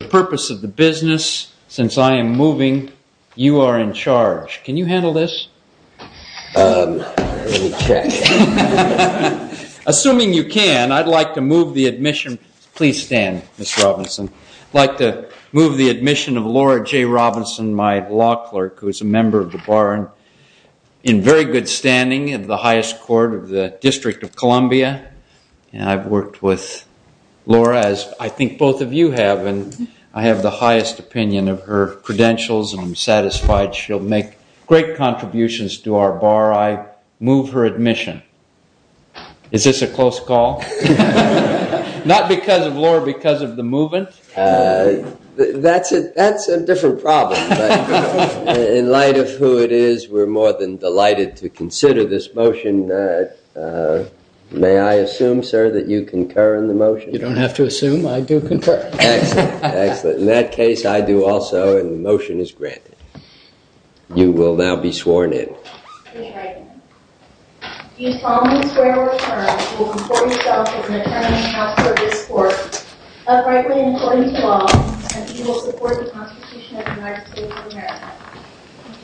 The purpose of the business, since I am moving, you are in charge. Can you handle this? Assuming you can, I'd like to move the admission. Please stand, Ms. Robinson. I'd like to move the admission of Laura J. Robinson, my law clerk, who is a member of the bar in very good standing of the highest court of the District of Columbia. And I've worked with Laura, as I think both of you have, and I have the highest opinion of her credentials, and I'm satisfied she'll make great contributions to our bar. I move her admission. Is this a close call? Not because of Laura, because of the movement? That's a different problem. In light of who it is, we're more than delighted to consider this motion. May I assume, sir, that you concur in the motion? You don't have to assume. I do concur. Excellent. In that case, I do also, and the motion is granted. You will now be sworn in. Do you solemnly swear or affirm that you will conform yourself as an attorney in the House or this Court, uprightly and according to law, and that you will support the Constitution of the United States of America? I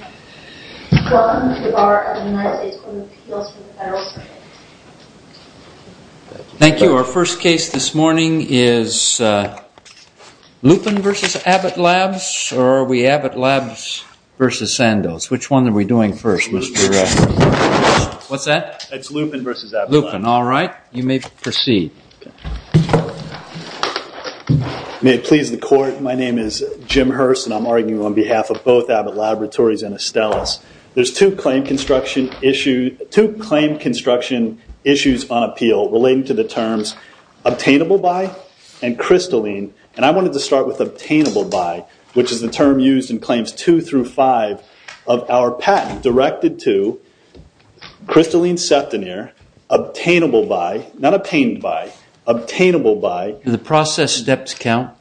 do. Welcome to the Bar of the United States Court of Appeals for the Federal Circuit. Thank you. Our first case this morning is Lupin v. Abbott Labs, or are we Abbott Labs v. Sandoz? Which one are we doing first, Mr. Director? What's that? It's Lupin v. Abbott Labs. Lupin. All right. You may proceed. May it please the Court, my name is Jim Hurst, and I'm arguing on behalf of both Abbott Laboratories and Estella's. There's two claim construction issues on appeal relating to the terms obtainable by and crystalline, and I wanted to start with obtainable by, which is the term used in claims two through five of our patent directed to crystalline septonere, obtainable by, not obtained by, obtainable by. Do the process steps count?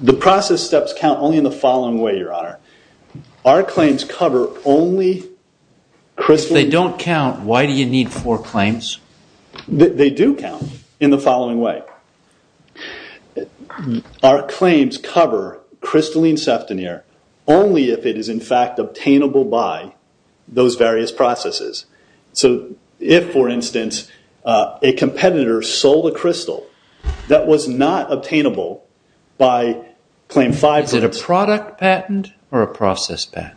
The process steps count only in the following way, Your Honor. Our claims cover only crystalline... If they don't count, why do you need four claims? They do count in the following way. Our claims cover crystalline septonere only if it is in fact obtainable by those various processes. So if, for instance, a competitor sold a crystal that was not obtainable by claim five... Is it a product patent or a process patent?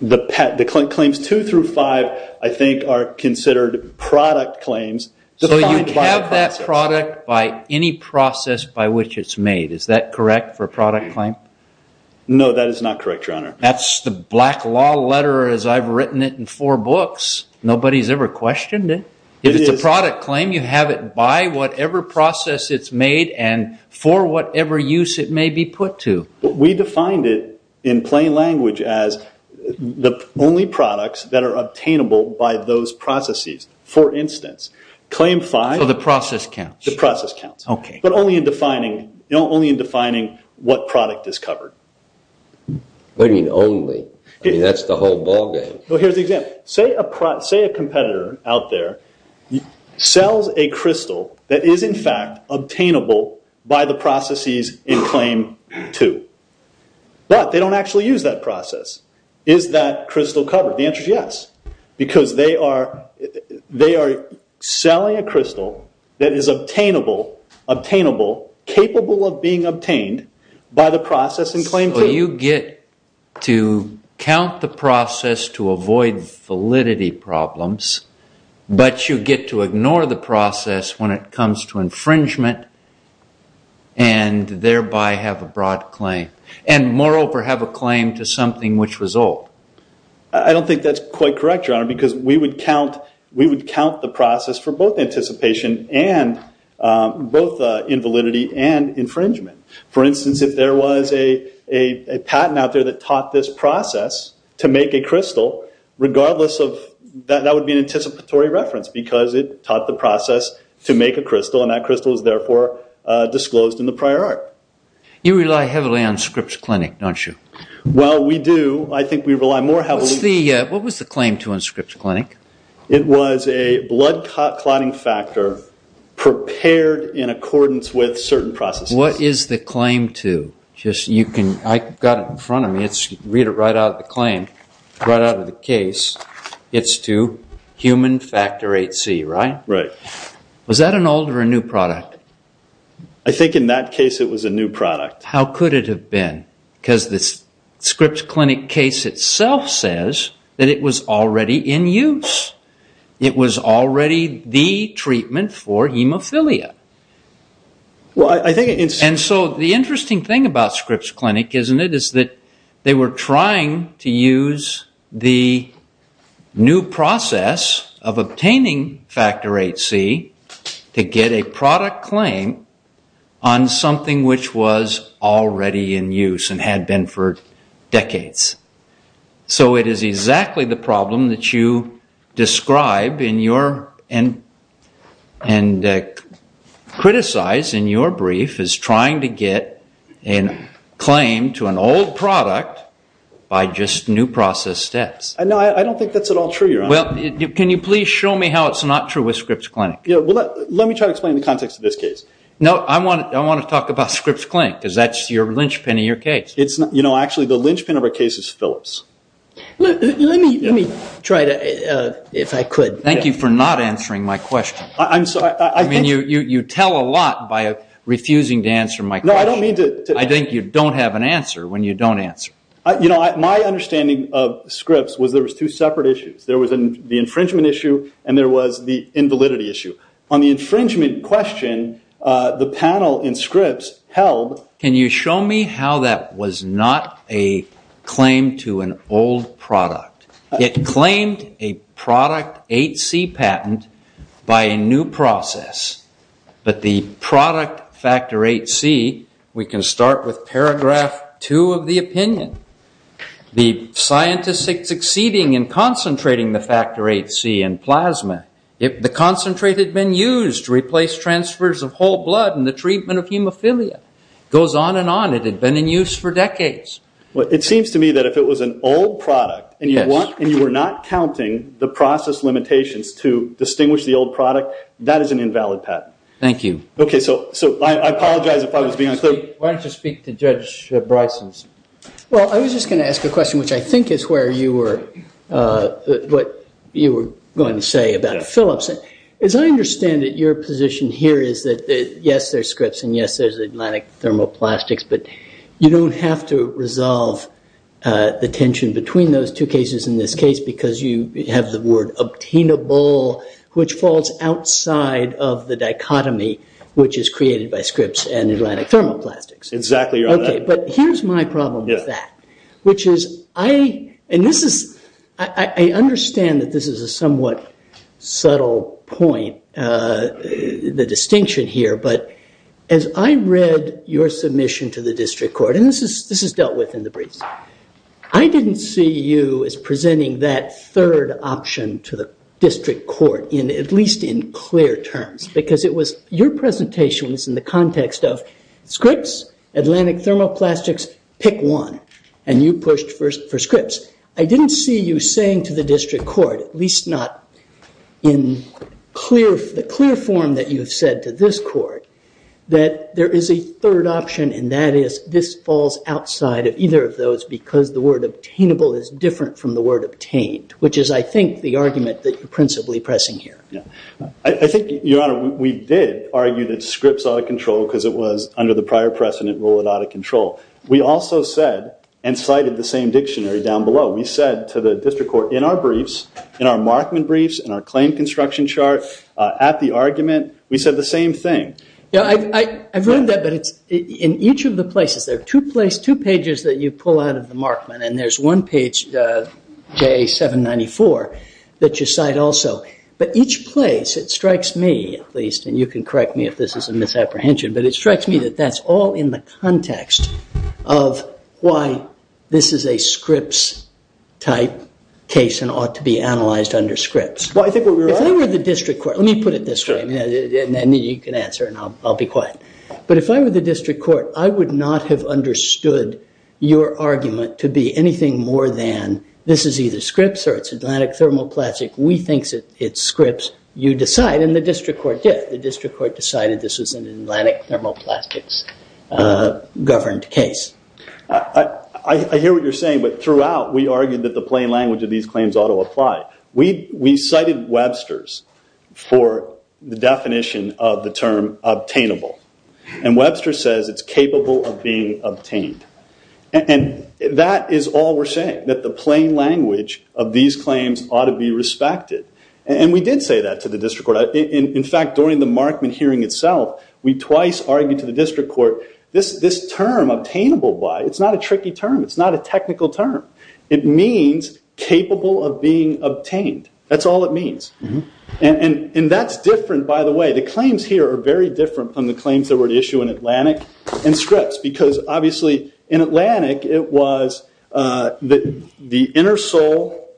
The claims two through five, I think, are considered product claims... So you have that product by any process by which it's made. Is that correct for a product claim? That's the black law letter as I've written it in four books. Nobody's ever questioned it. If it's a product claim, you have it by whatever process it's made and for whatever use it may be put to. We defined it in plain language as the only products that are obtainable by those processes. For instance, claim five... So the process counts? The process counts, but only in defining what product is covered. What do you mean only? That's the whole ballgame. Here's an example. Say a competitor out there sells a crystal that is in fact obtainable by the processes in claim two. But they don't actually use that process. Is that crystal covered? The answer is yes. Because they are selling a crystal that is obtainable, capable of being obtained by the process in claim two. So you get to count the process to avoid validity problems, but you get to ignore the process when it comes to infringement and thereby have a broad claim, and moreover have a claim to something which was old. I don't think that's quite correct, Your Honor, because we would count the process for both anticipation and both invalidity and infringement. For instance, if there was a patent out there that taught this process to make a crystal, that would be an anticipatory reference because it taught the process to make a crystal, and that crystal is therefore disclosed in the prior art. You rely heavily on Scripps Clinic, don't you? Well, we do. I think we rely more heavily... What was the claim to in Scripps Clinic? It was a blood clotting factor prepared in accordance with certain processes. What is the claim to? I've got it in front of me. Read it right out of the claim, right out of the case. It's to human factor 8C, right? Right. Was that an old or a new product? I think in that case it was a new product. How could it have been? Because the Scripps Clinic case itself says that it was already in use. It was already the treatment for hemophilia. And so the interesting thing about Scripps Clinic, isn't it, is that they were trying to use the new process of obtaining factor 8C to get a product claim on something which was already in use and had been for decades. So it is exactly the problem that you describe and criticize in your brief as trying to get a claim to an old product by just new process steps. No, I don't think that's at all true, Your Honor. Well, can you please show me how it's not true with Scripps Clinic? Let me try to explain the context of this case. No, I want to talk about Scripps Clinic because that's the linchpin of your case. Actually, the linchpin of our case is Phillips. Let me try to, if I could. Thank you for not answering my question. I'm sorry. You tell a lot by refusing to answer my question. No, I don't mean to. I think you don't have an answer when you don't answer. My understanding of Scripps was there was two separate issues. There was the infringement issue and there was the invalidity issue. On the infringement question, the panel in Scripps held. Can you show me how that was not a claim to an old product? It claimed a product 8C patent by a new process. But the product factor 8C, we can start with paragraph 2 of the opinion. The scientists succeeding in concentrating the factor 8C in plasma, the concentrate had been used to replace transfers of whole blood and the treatment of hemophilia. It goes on and on. It had been in use for decades. It seems to me that if it was an old product and you were not counting the process limitations to distinguish the old product, that is an invalid patent. Thank you. I apologize if I was being unclear. Why don't you speak to Judge Bryson's? I was just going to ask a question, which I think is what you were going to say about Phillips. As I understand it, your position here is that, yes, there's Scripps and, yes, there's Atlantic Thermoplastics, but you don't have to resolve the tension between those two cases in this case because you have the word obtainable, which falls outside of the dichotomy, which is created by Scripps and Atlantic Thermoplastics. Exactly. But here's my problem with that, which is I understand that this is a somewhat subtle point, the distinction here, but as I read your submission to the district court, and this is dealt with in the briefs, I didn't see you as presenting that third option to the district court, at least in clear terms because your presentation was in the context of Scripps, Atlantic Thermoplastics, pick one, and you pushed for Scripps. I didn't see you saying to the district court, at least not in the clear form that you have said to this court, that there is a third option and that is this falls outside of either of those because the word obtainable is different from the word obtained, which is I think the argument that you're principally pressing here. I think, Your Honor, we did argue that Scripps out of control because it was under the prior precedent rule it out of control. We also said and cited the same dictionary down below. We said to the district court in our briefs, in our Markman briefs, in our claim construction chart, at the argument, we said the same thing. I've read that, but in each of the places, there are two pages that you pull out of the Markman and there's one page, JA 794, that you cite also. But each place, it strikes me at least, and you can correct me if this is a misapprehension, but it strikes me that that's all in the context of why this is a Scripps type case and ought to be analyzed under Scripps. If I were the district court, let me put it this way, and then you can answer and I'll be quiet. But if I were the district court, I would not have understood your argument to be anything more than this is either Scripps or it's Atlantic Thermoplastic. We think it's Scripps. You decide, and the district court did. The district court decided this was an Atlantic Thermoplastics governed case. I hear what you're saying, but throughout, we argued that the plain language of these claims ought to apply. We cited Webster's for the definition of the term obtainable. And Webster says it's capable of being obtained. And that is all we're saying, that the plain language of these claims ought to be respected. And we did say that to the district court. In fact, during the Markman hearing itself, we twice argued to the district court, this term obtainable by, it's not a tricky term. It's not a technical term. It means capable of being obtained. That's all it means. And that's different, by the way. The claims here are very different from the claims that were at issue in Atlantic and Scripps. Because obviously, in Atlantic, it was the inner soul,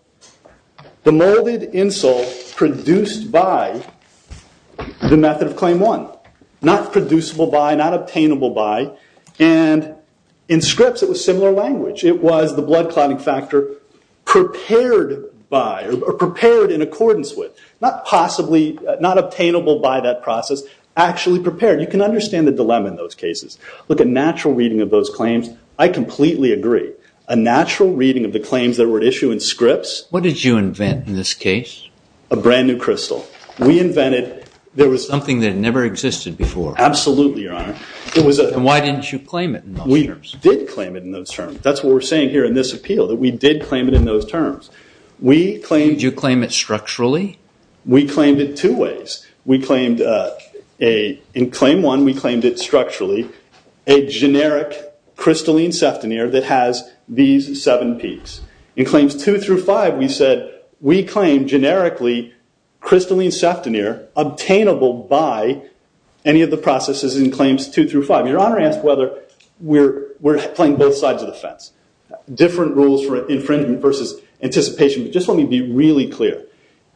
the molded in soul produced by the method of claim one. Not producible by, not obtainable by. And in Scripps, it was similar language. It was the blood clotting factor prepared by, or prepared in accordance with. Not possibly, not obtainable by that process. Actually prepared. You can understand the dilemma in those cases. Look, a natural reading of those claims, I completely agree. A natural reading of the claims that were at issue in Scripps. What did you invent in this case? A brand new crystal. We invented, there was... Something that never existed before. Absolutely, Your Honor. And why didn't you claim it in those terms? We did claim it in those terms. That's what we're saying here in this appeal, that we did claim it in those terms. We claimed... Structurally? We claimed it two ways. We claimed a... In claim one, we claimed it structurally. A generic crystalline seftonere that has these seven peaks. In claims two through five, we said, we claim generically crystalline seftonere, obtainable by any of the processes in claims two through five. Your Honor asked whether we're playing both sides of the fence. Different rules for infringement versus anticipation. Just let me be really clear.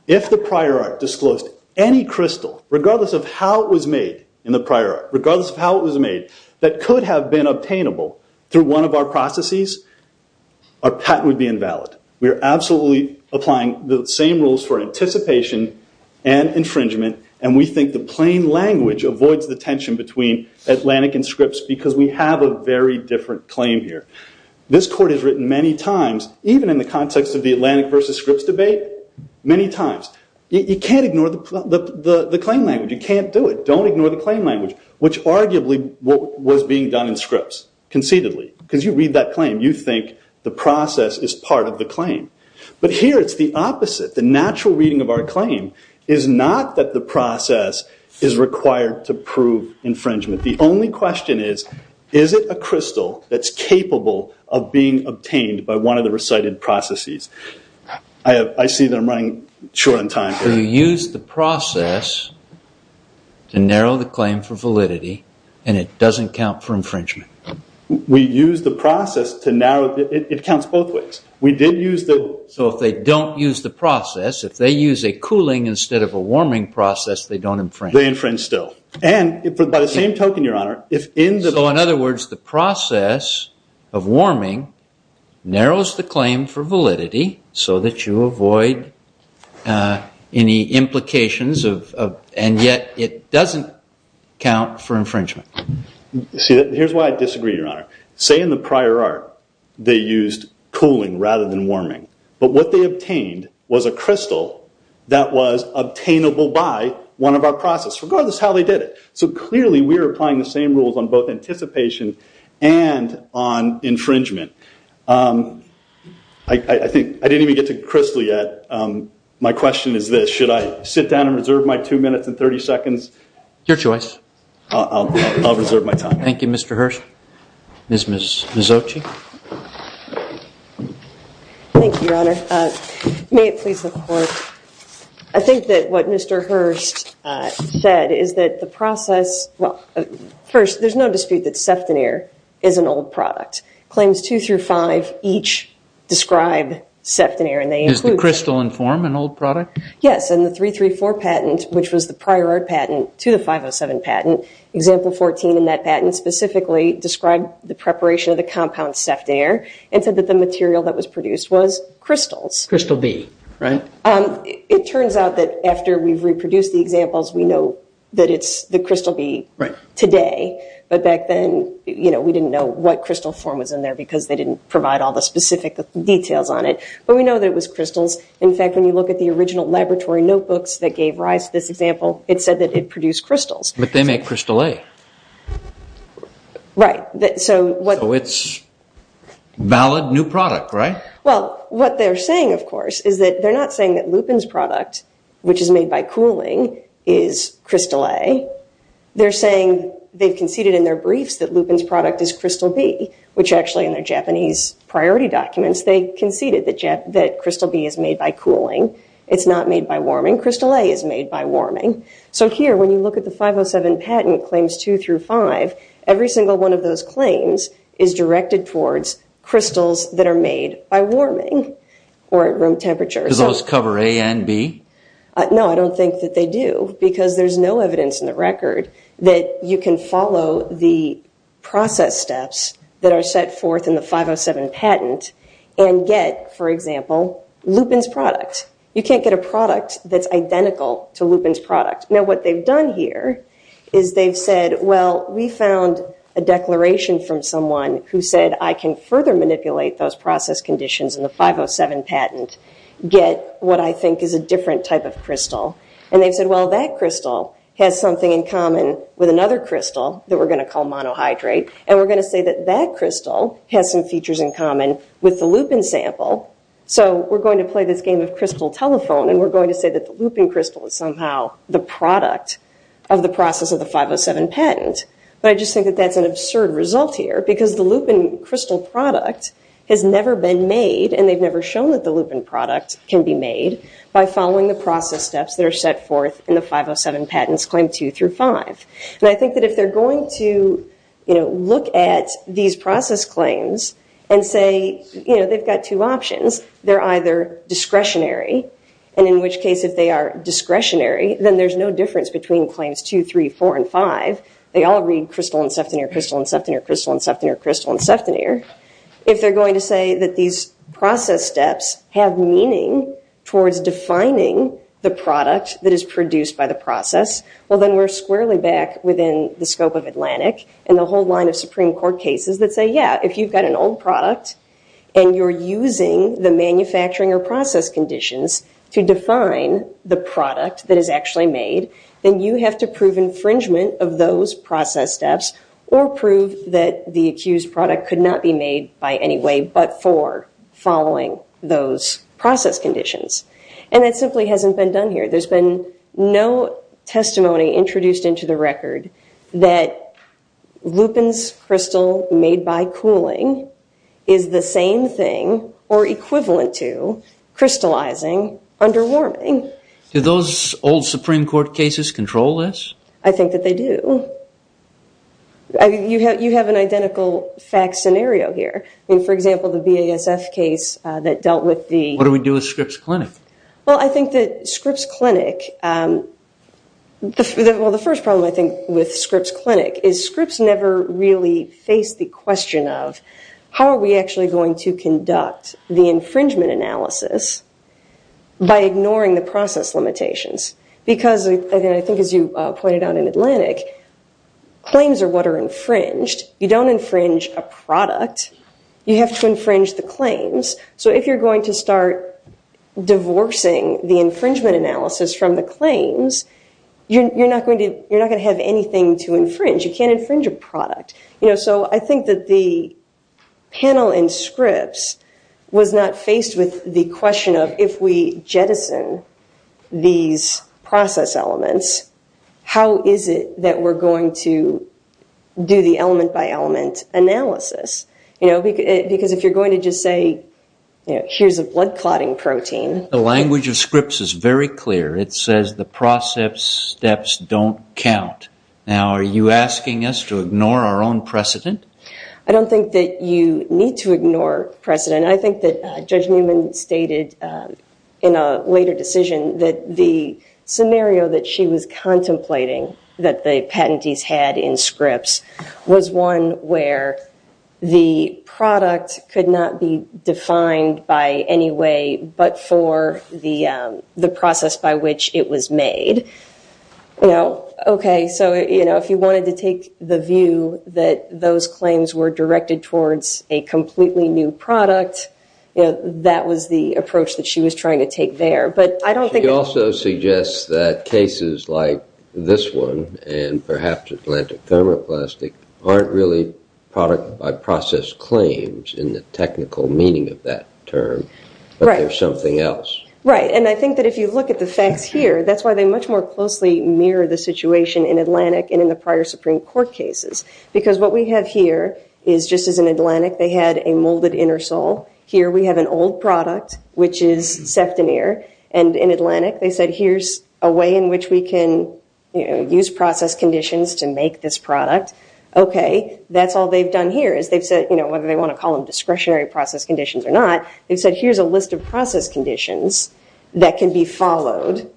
If the prior art disclosed any crystal, regardless of how it was made in the prior art, regardless of how it was made, that could have been obtainable through one of our processes, our patent would be invalid. We are absolutely applying the same rules for anticipation and infringement, and we think the plain language avoids the tension between Atlantic and Scripps because we have a very different claim here. This court has written many times, even in the context of the Atlantic versus Scripps debate, many times, you can't ignore the claim language. You can't do it. Don't ignore the claim language, which arguably was being done in Scripps conceitedly because you read that claim, you think the process is part of the claim. But here it's the opposite. The natural reading of our claim is not that the process is required to prove infringement. The only question is, is it a crystal that's capable of being obtained by one of the recited processes? I see that I'm running short on time here. So you used the process to narrow the claim for validity, and it doesn't count for infringement? We used the process to narrow it. It counts both ways. So if they don't use the process, if they use a cooling instead of a warming process, they don't infringe? They infringe still. And by the same token, Your Honor, So in other words, the process of warming narrows the claim for validity so that you avoid any implications, and yet it doesn't count for infringement? See, here's why I disagree, Your Honor. Say in the prior art they used cooling rather than warming, but what they obtained was a crystal that was obtainable by one of our processes, regardless of how they did it. So clearly we are applying the same rules on both anticipation and on infringement. I didn't even get to crystal yet. My question is this. Should I sit down and reserve my two minutes and 30 seconds? Your choice. I'll reserve my time. Thank you, Mr. Hurst. Ms. Mazzocchi? Thank you, Your Honor. May it please the Court. I think that what Mr. Hurst said is that the process, well, first, there's no dispute that sefton air is an old product. Claims two through five each describe sefton air. Does the crystal inform an old product? Yes. In the 334 patent, which was the prior art patent to the 507 patent, example 14 in that patent specifically described the preparation of the compound sefton air and said that the material that was produced was crystals. Crystal B, right? It turns out that after we've reproduced the examples, we know that it's the crystal B today. But back then, we didn't know what crystal form was in there because they didn't provide all the specific details on it. But we know that it was crystals. In fact, when you look at the original laboratory notebooks that gave rise to this example, it said that it produced crystals. But they make crystal A. Right. So it's a valid new product, right? Well, what they're saying, of course, is that they're not saying that Lupin's product, which is made by cooling, is crystal A. They're saying they've conceded in their briefs that Lupin's product is crystal B, which actually in their Japanese priority documents, they conceded that crystal B is made by cooling. It's not made by warming. Crystal A is made by warming. So here, when you look at the 507 patent claims two through five, every single one of those claims is directed towards crystals that are made by warming or at room temperature. Does those cover A and B? No, I don't think that they do because there's no evidence in the record that you can follow the process steps that are set forth in the 507 patent and get, for example, Lupin's product. You can't get a product that's identical to Lupin's product. Now, what they've done here is they've said, well, we found a declaration from someone who said, I can further manipulate those process conditions in the 507 patent, get what I think is a different type of crystal. And they've said, well, that crystal has something in common with another crystal that we're going to call monohydrate, and we're going to say that that crystal has some features in common with the Lupin sample. So we're going to play this game of crystal telephone, and we're going to say that the Lupin crystal is somehow the product of the process of the 507 patent. But I just think that that's an absurd result here because the Lupin crystal product has never been made, and they've never shown that the Lupin product can be made by following the process steps that are set forth in the 507 patent's claim two through five. And I think that if they're going to look at these process claims and say, you know, they've got two options. They're either discretionary, and in which case if they are discretionary, then there's no difference between claims two, three, four, and five. They all read crystal and septonere, crystal and septonere, crystal and septonere, crystal and septonere. If they're going to say that these process steps have meaning towards defining the product that is produced by the process, well, then we're squarely back within the scope of Atlantic and the whole line of Supreme Court cases that say, yeah, if you've got an old product and you're using the manufacturing or process conditions to define the product that is actually made, then you have to prove infringement of those process steps or prove that the accused product could not be made by any way but for following those process conditions. And that simply hasn't been done here. There's been no testimony introduced into the record that Lupin's crystal made by cooling is the same thing or equivalent to crystallizing under warming. Do those old Supreme Court cases control this? I think that they do. You have an identical fact scenario here. I mean, for example, the BASF case that dealt with the- What do we do with Scripps Clinic? Well, I think that Scripps Clinic- Well, the first problem, I think, with Scripps Clinic is Scripps never really faced the question of how are we actually going to conduct the infringement analysis by ignoring the process limitations? Because, again, I think as you pointed out in Atlantic, claims are what are infringed. You don't infringe a product. You have to infringe the claims. So if you're going to start divorcing the infringement analysis from the claims, you're not going to have anything to infringe. You can't infringe a product. So I think that the panel in Scripps was not faced with the question of if we jettison these process elements, how is it that we're going to do the element-by-element analysis? Because if you're going to just say, here's a blood clotting protein- The language of Scripps is very clear. It says the process steps don't count. Now, are you asking us to ignore our own precedent? I don't think that you need to ignore precedent. I think that Judge Newman stated in a later decision that the scenario that she was contemplating that the patentees had in Scripps was one where the product could not be defined by any way but for the process by which it was made. So if you wanted to take the view that those claims were directed towards a completely new product, that was the approach that she was trying to take there. She also suggests that cases like this one and perhaps Atlantic Thermoplastic aren't really product-by-process claims in the technical meaning of that term, but they're something else. Right, and I think that if you look at the facts here, that's why they much more closely mirror the situation in Atlantic and in the prior Supreme Court cases. Because what we have here is just as in Atlantic, they had a molded intersol. Here we have an old product, which is septaneer. And in Atlantic, they said here's a way in which we can use process conditions to make this product. Okay, that's all they've done here is they've said, you know, whether they want to call them discretionary process conditions or not, they've said here's a list of process conditions that can be followed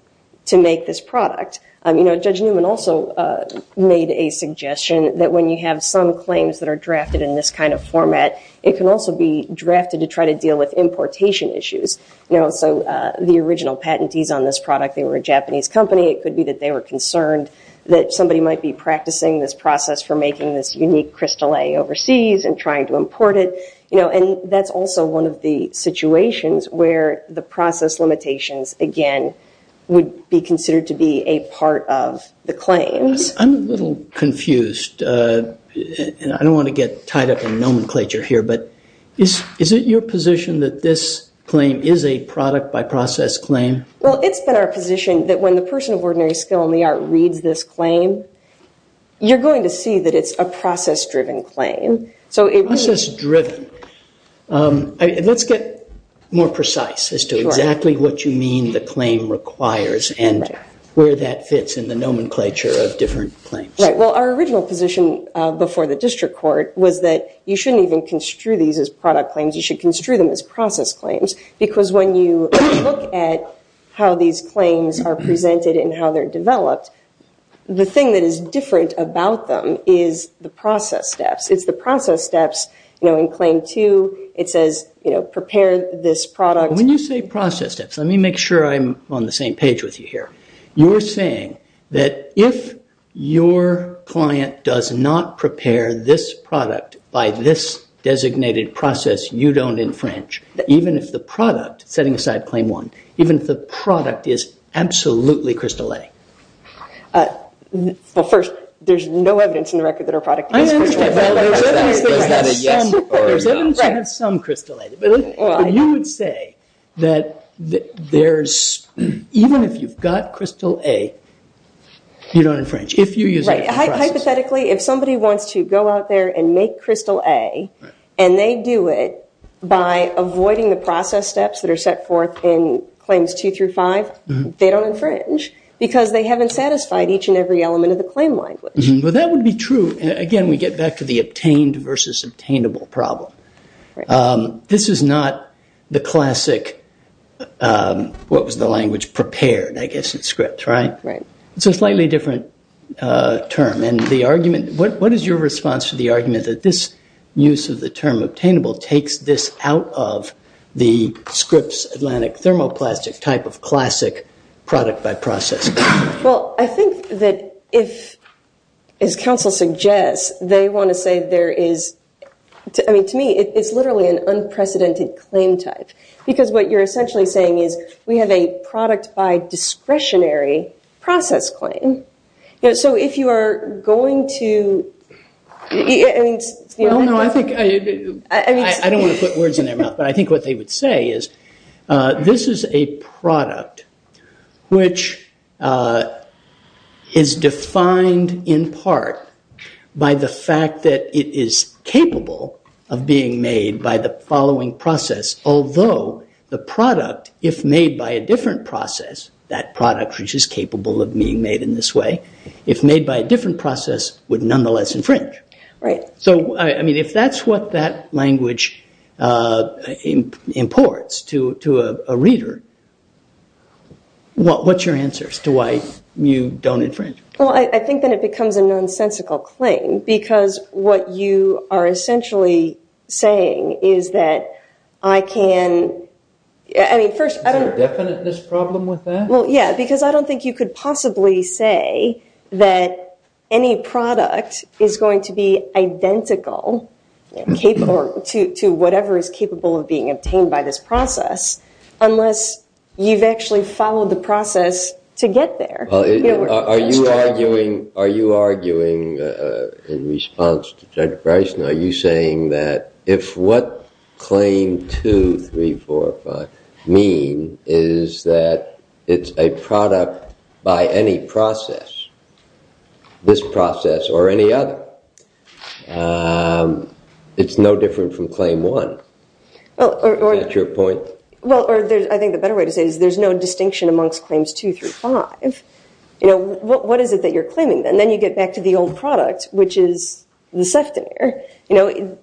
to make this product. You know, Judge Newman also made a suggestion that when you have some claims that are drafted in this kind of format, it can also be drafted to try to deal with importation issues. You know, so the original patentees on this product, they were a Japanese company. It could be that they were concerned that somebody might be practicing this process for making this unique crystal A overseas and trying to import it. You know, and that's also one of the situations where the process limitations, again, would be considered to be a part of the claims. I'm a little confused, and I don't want to get tied up in nomenclature here, but is it your position that this claim is a product by process claim? Well, it's been our position that when the person of ordinary skill in the art reads this claim, you're going to see that it's a process-driven claim. Process-driven. Let's get more precise as to exactly what you mean the claim requires and where that fits in the nomenclature of different claims. Right. Well, our original position before the district court was that you shouldn't even construe these as product claims. You should construe them as process claims, because when you look at how these claims are presented and how they're developed, the thing that is different about them is the process steps. It's the process steps, you know, in claim two. It says, you know, prepare this product. When you say process steps, let me make sure I'm on the same page with you here. You're saying that if your client does not prepare this product by this designated process, you don't infringe, even if the product, setting aside claim one, even if the product is absolutely crystalline. Well, first, there's no evidence in the record that our product is crystalline. I understand, but there's evidence to have some crystalline. You would say that there's, even if you've got crystal A, you don't infringe. Right. Hypothetically, if somebody wants to go out there and make crystal A, and they do it by avoiding the process steps that are set forth in claims two through five, they don't infringe because they haven't satisfied each and every element of the claim language. Well, that would be true. Again, we get back to the obtained versus obtainable problem. This is not the classic, what was the language, prepared, I guess, in script, right? Right. It's a slightly different term. And the argument, what is your response to the argument that this use of the term obtainable takes this out of the scripts Atlantic thermoplastic type of classic product by process? Well, I think that if, as counsel suggests, they want to say there is, I mean, to me, it's literally an unprecedented claim type because what you're essentially saying is we have a product by discretionary process claim. So if you are going to, I mean, it's the only thing. Well, no, I think, I don't want to put words in their mouth, but I think what they would say is this is a product, which is defined in part by the fact that it is capable of being made by the following process, although the product, if made by a different process, that product which is capable of being made in this way, if made by a different process would nonetheless infringe. Right. So, I mean, if that's what that language imports to a reader, what's your answers to why you don't infringe? Well, I think that it becomes a nonsensical claim because what you are essentially saying is that I can, I mean, first I don't... Is there a definiteness problem with that? Well, yeah, because I don't think you could possibly say that any product is going to be identical to whatever is capable of being obtained by this process unless you've actually followed the process to get there. Are you arguing in response to Judge Bryson, are you saying that if what Claim 2, 3, 4, 5 mean is that it's a product by any process, this process or any other, it's no different from Claim 1? Is that your point? Well, I think the better way to say it is there's no distinction amongst Claims 2 through 5. What is it that you're claiming? And then you get back to the old product, which is the seftonere. The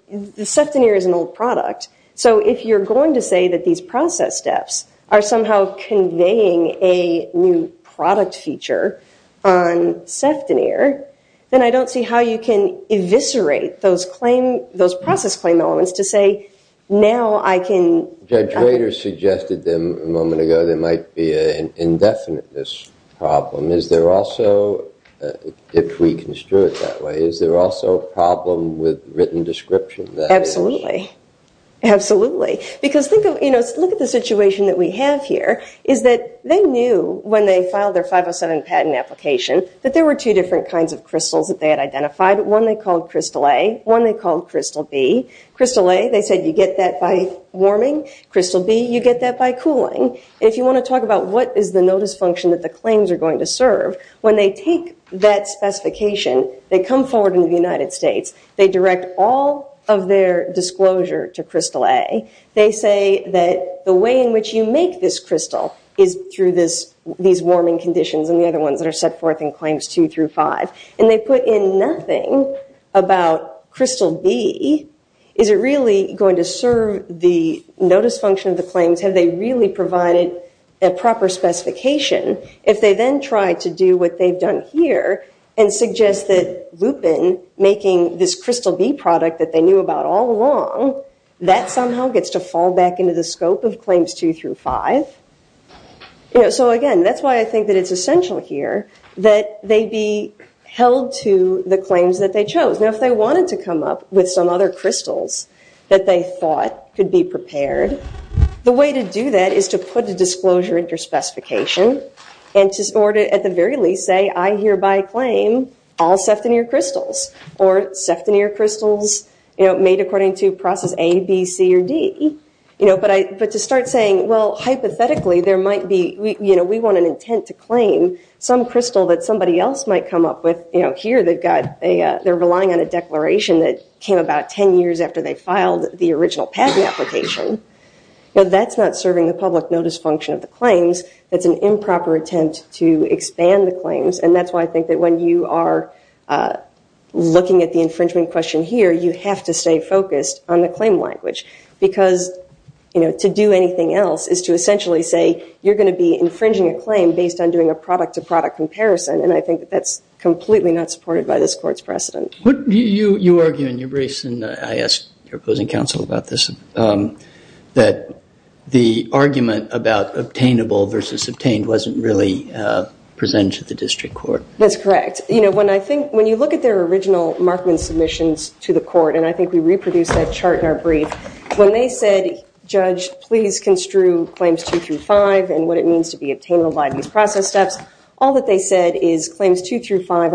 seftonere is an old product. So if you're going to say that these process steps are somehow conveying a new product feature on seftonere, then I don't see how you can eviscerate those process claim elements to say now I can... You later suggested a moment ago there might be an indefiniteness problem. Is there also, if we construe it that way, is there also a problem with written description? Absolutely. Absolutely. Because look at the situation that we have here is that they knew when they filed their 507 patent application that there were two different kinds of crystals that they had identified. One they called Crystal A, one they called Crystal B. Crystal A, they said you get that by warming. Crystal B, you get that by cooling. And if you want to talk about what is the notice function that the claims are going to serve, when they take that specification, they come forward into the United States. They direct all of their disclosure to Crystal A. They say that the way in which you make this crystal is through these warming conditions and the other ones that are set forth in Claims 2 through 5. And they put in nothing about Crystal B. Is it really going to serve the notice function of the claims? Have they really provided a proper specification? If they then try to do what they've done here and suggest that Lupin making this Crystal B product that they knew about all along, that somehow gets to fall back into the scope of Claims 2 through 5. So again, that's why I think that it's essential here that they be held to the claims that they chose. Now if they wanted to come up with some other crystals that they thought could be prepared, the way to do that is to put a disclosure into your specification or to at the very least say I hereby claim all septonere crystals or septonere crystals made according to process A, B, C, or D. But to start saying, well, hypothetically, we want an intent to claim some crystal that somebody else might come up with. Here they're relying on a declaration that came about 10 years after they filed the original patent application. That's not serving the public notice function of the claims. It's an improper attempt to expand the claims. And that's why I think that when you are looking at the infringement question here, you have to stay focused on the claim language. Because to do anything else is to essentially say you're going to be infringing a claim based on doing a product to product comparison. And I think that's completely not supported by this court's precedent. You argue in your briefs, and I asked your opposing counsel about this, that the argument about obtainable versus obtained wasn't really presented to the district court. That's correct. When you look at their original Markman submissions to the court, and I think we reproduced that chart in our brief, when they said, Judge, please construe claims 2 through 5 and what it means to be obtainable by these process steps, all that they said is claims 2 through 5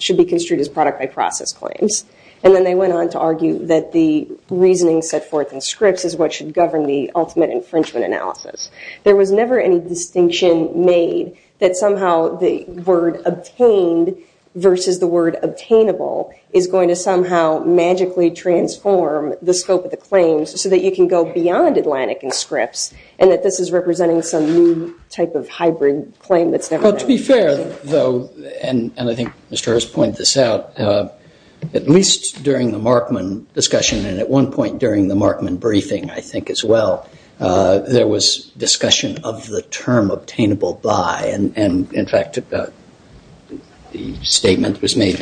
should be construed as product by process claims. And then they went on to argue that the reasoning set forth in scripts is what should govern the ultimate infringement analysis. There was never any distinction made that somehow the word obtained versus the word obtainable is going to somehow magically transform the scope of the claims so that you can go beyond Atlantic in scripts and that this is representing some new type of hybrid claim that's never been made. Well, to be fair, though, and I think Mr. Harris pointed this out, at least during the Markman discussion and at one point during the Markman briefing, I think, as well, there was discussion of the term obtainable by. And in fact, the statement was made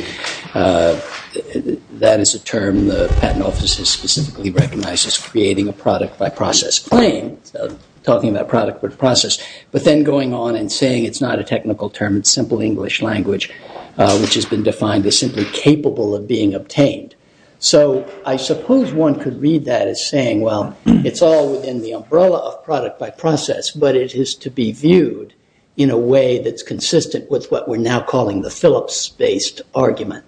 that is a term the patent office has specifically recognized as creating a product by process claim, talking about product by process, but then going on and saying it's not a technical term, it's simple English language, which has been defined as simply capable of being obtained. So I suppose one could read that as saying, well, it's all within the umbrella of product by process, but it is to be viewed in a way that's consistent with what we're now calling the Phillips-based argument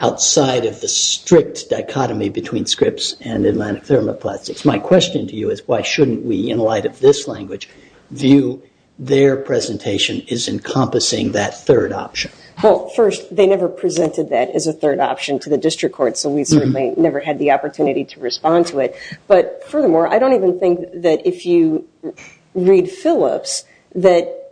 outside of the strict dichotomy between scripts and Atlantic Thermoplastics. My question to you is why shouldn't we, in light of this language, view their presentation as encompassing that third option? Well, first, they never presented that as a third option to the district court, so we certainly never had the opportunity to respond to it. But furthermore, I don't even think that if you read Phillips that...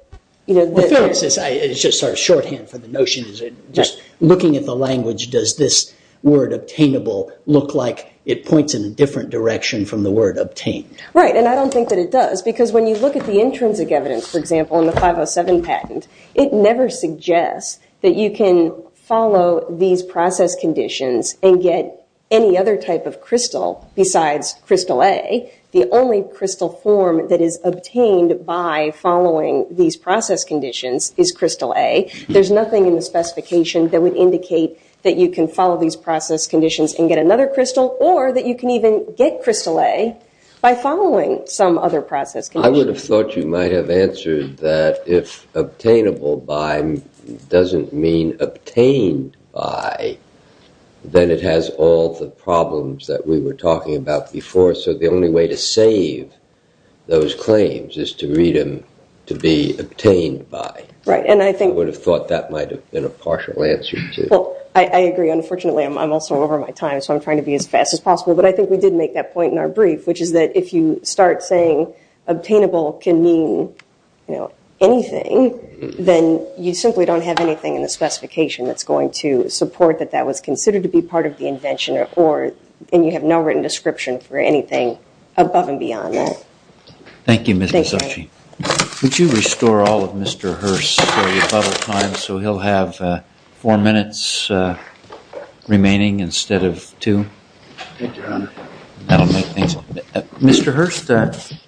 Well, Phillips is just sort of shorthand for the notion that just looking at the language, does this word obtainable look like it points in a different direction from the word obtained? Right, and I don't think that it does, because when you look at the intrinsic evidence, for example, in the 507 patent, it never suggests that you can follow these process conditions and get any other type of crystal besides crystal A. The only crystal form that is obtained by following these process conditions is crystal A. There's nothing in the specification that would indicate that you can follow these process conditions and get another crystal, or that you can even get crystal A by following some other process condition. I would have thought you might have answered that if obtainable by doesn't mean obtained by, then it has all the problems that we were talking about before, so the only way to save those claims is to read them to be obtained by. Right, and I think... I would have thought that might have been a partial answer, too. Well, I agree. Unfortunately, I'm also over my time, so I'm trying to be as fast as possible. But I think we did make that point in our brief, which is that if you start saying obtainable can mean anything, then you simply don't have anything in the specification that's going to support that that was considered to be part of the invention, and you have no written description for anything above and beyond that. Thank you, Ms. Misucci. Would you restore all of Mr. Hurst's story of bubble time so he'll have four minutes remaining instead of two? Thank you, Your Honor. That'll make things... Mr. Hurst,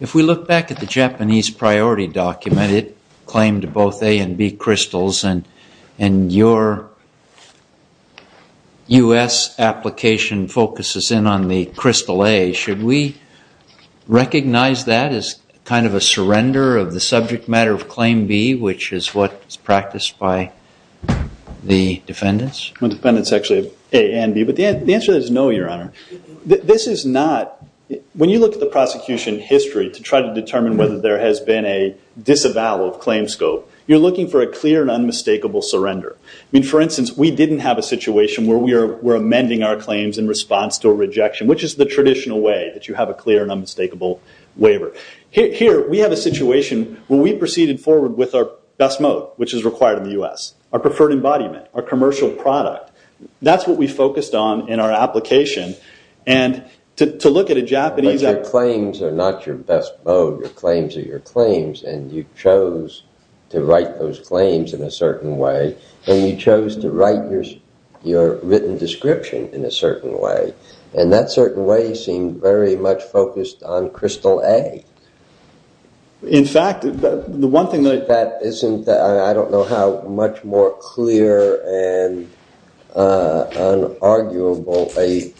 if we look back at the Japanese priority document, it claimed both A and B crystals, and your U.S. application focuses in on the crystal A. Should we recognize that as kind of a surrender of the subject matter of Claim B, which is what is practiced by the defendants? The defendants actually have A and B, but the answer is no, Your Honor. This is not... When you look at the prosecution history to try to determine whether there has been a disavowal of claim scope, you're looking for a clear and unmistakable surrender. For instance, we didn't have a situation where we were amending our claims in response to a rejection, which is the traditional way that you have a clear and unmistakable waiver. Here, we have a situation where we proceeded forward with our best mode, which is required in the U.S., our preferred embodiment, our commercial product. That's what we focused on in our application. To look at a Japanese... But your claims are not your best mode. Your claims are your claims, and you chose to write those claims in a certain way, and you chose to write your written description in a certain way. And that certain way seemed very much focused on crystal A. In fact, the one thing that... That isn't... I don't know how much more clear and unarguable a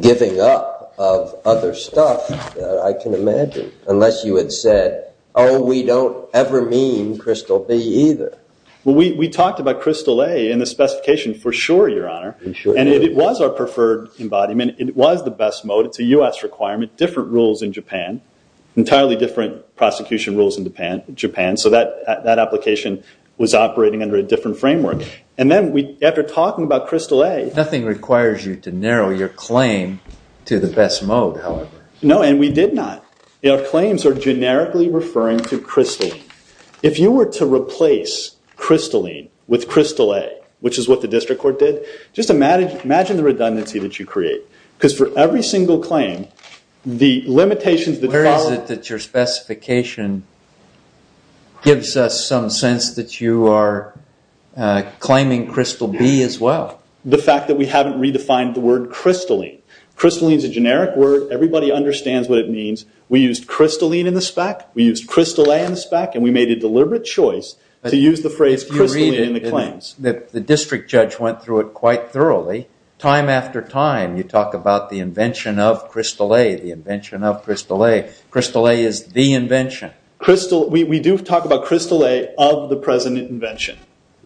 giving up of other stuff that I can imagine, unless you had said, oh, we don't ever mean crystal B either. Well, we talked about crystal A in the specification for sure, Your Honor. And it was our preferred embodiment. It was the best mode. It's a U.S. requirement. Different rules in Japan. Entirely different prosecution rules in Japan. So that application was operating under a different framework. And then after talking about crystal A... Nothing requires you to narrow your claim to the best mode, however. No, and we did not. Our claims are generically referring to crystal. If you were to replace crystalline with crystal A, which is what the district court did, just imagine the redundancy that you create. Because for every single claim, the limitations that follow... Where is it that your specification gives us some sense that you are claiming crystal B as well? The fact that we haven't redefined the word crystalline. Crystalline is a generic word. Everybody understands what it means. We used crystalline in the spec. We used crystal A in the spec. And we made a deliberate choice to use the phrase crystalline in the claims. The district judge went through it quite thoroughly. Time after time, you talk about the invention of crystal A, the invention of crystal A. Crystal A is the invention. We do talk about crystal A of the present invention.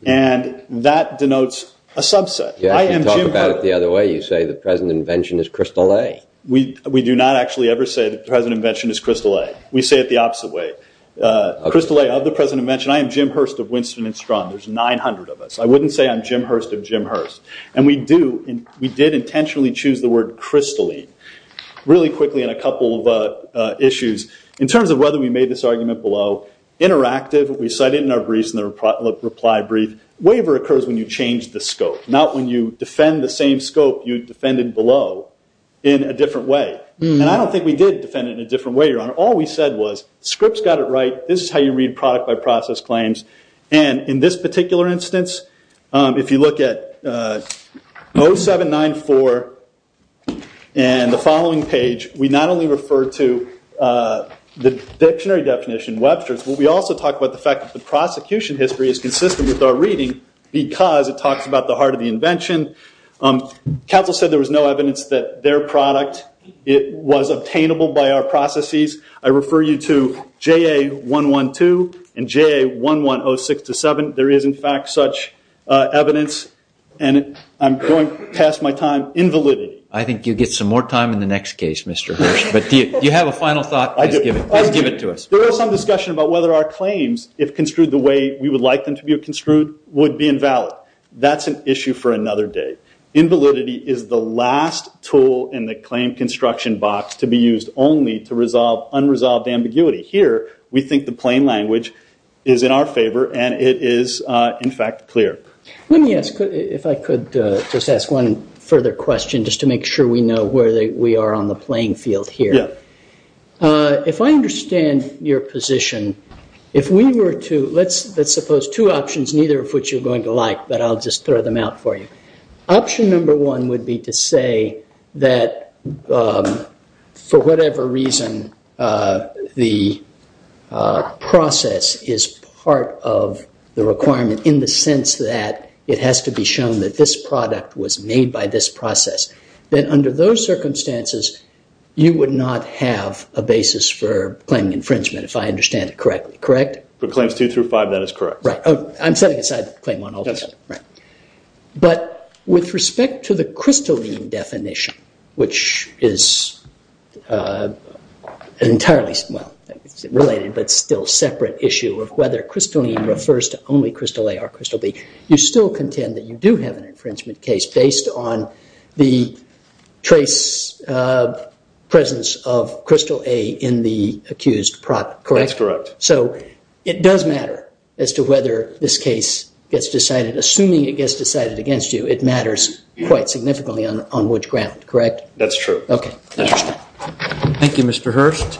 And that denotes a subset. You talk about it the other way. You say the present invention is crystal A. We do not actually ever say the present invention is crystal A. We say it the opposite way. Crystal A of the present invention. I am Jim Hurst of Winston and Strachan. There's 900 of us. I wouldn't say I'm Jim Hurst of Jim Hurst. And we did intentionally choose the word crystalline really quickly in a couple of issues. In terms of whether we made this argument below, interactive. We cite it in our briefs in the reply brief. Waiver occurs when you change the scope. Not when you defend the same scope you defended below in a different way. And I don't think we did defend it in a different way, Your Honor. All we said was, Scripps got it right. This is how you read product by process claims. And in this particular instance, if you look at 0794 and the following page, we not only refer to the dictionary definition, Webster's, but we also talk about the fact that the prosecution history is consistent with our reading because it talks about the heart of the invention. Counsel said there was no evidence that their product was obtainable by our processes. I refer you to JA112 and JA1106-7. There is, in fact, such evidence. And I'm going past my time. Invalidity. I think you'll get some more time in the next case, Mr. Hurst. But do you have a final thought? Please give it to us. There was some discussion about whether our claims, if construed the way we would like them to be construed, would be invalid. That's an issue for another day. Invalidity is the last tool in the claim construction box to be used only to resolve unresolved ambiguity. Here, we think the plain language is in our favor, and it is, in fact, clear. Let me ask, if I could, just ask one further question, just to make sure we know where we are on the playing field here. If I understand your position, if we were to, let's suppose two options, neither of which you're going to like, but I'll just throw them out for you. Option number one would be to say that for whatever reason the process is part of the requirement in the sense that it has to be shown that this product was made by this process. Then under those circumstances, you would not have a basis for claiming infringement, if I understand it correctly. Correct? For claims two through five, that is correct. I'm setting aside claim one altogether. But with respect to the crystalline definition, which is entirely, well, related, but still separate issue of whether crystalline refers to only crystal A or crystal B, you still contend that you do have an infringement case based on the trace presence of crystal A in the accused product, correct? That's correct. So it does matter as to whether this case gets decided. Assuming it gets decided against you, it matters quite significantly on which ground, correct? That's true. Okay. Thank you, Mr. Hurst.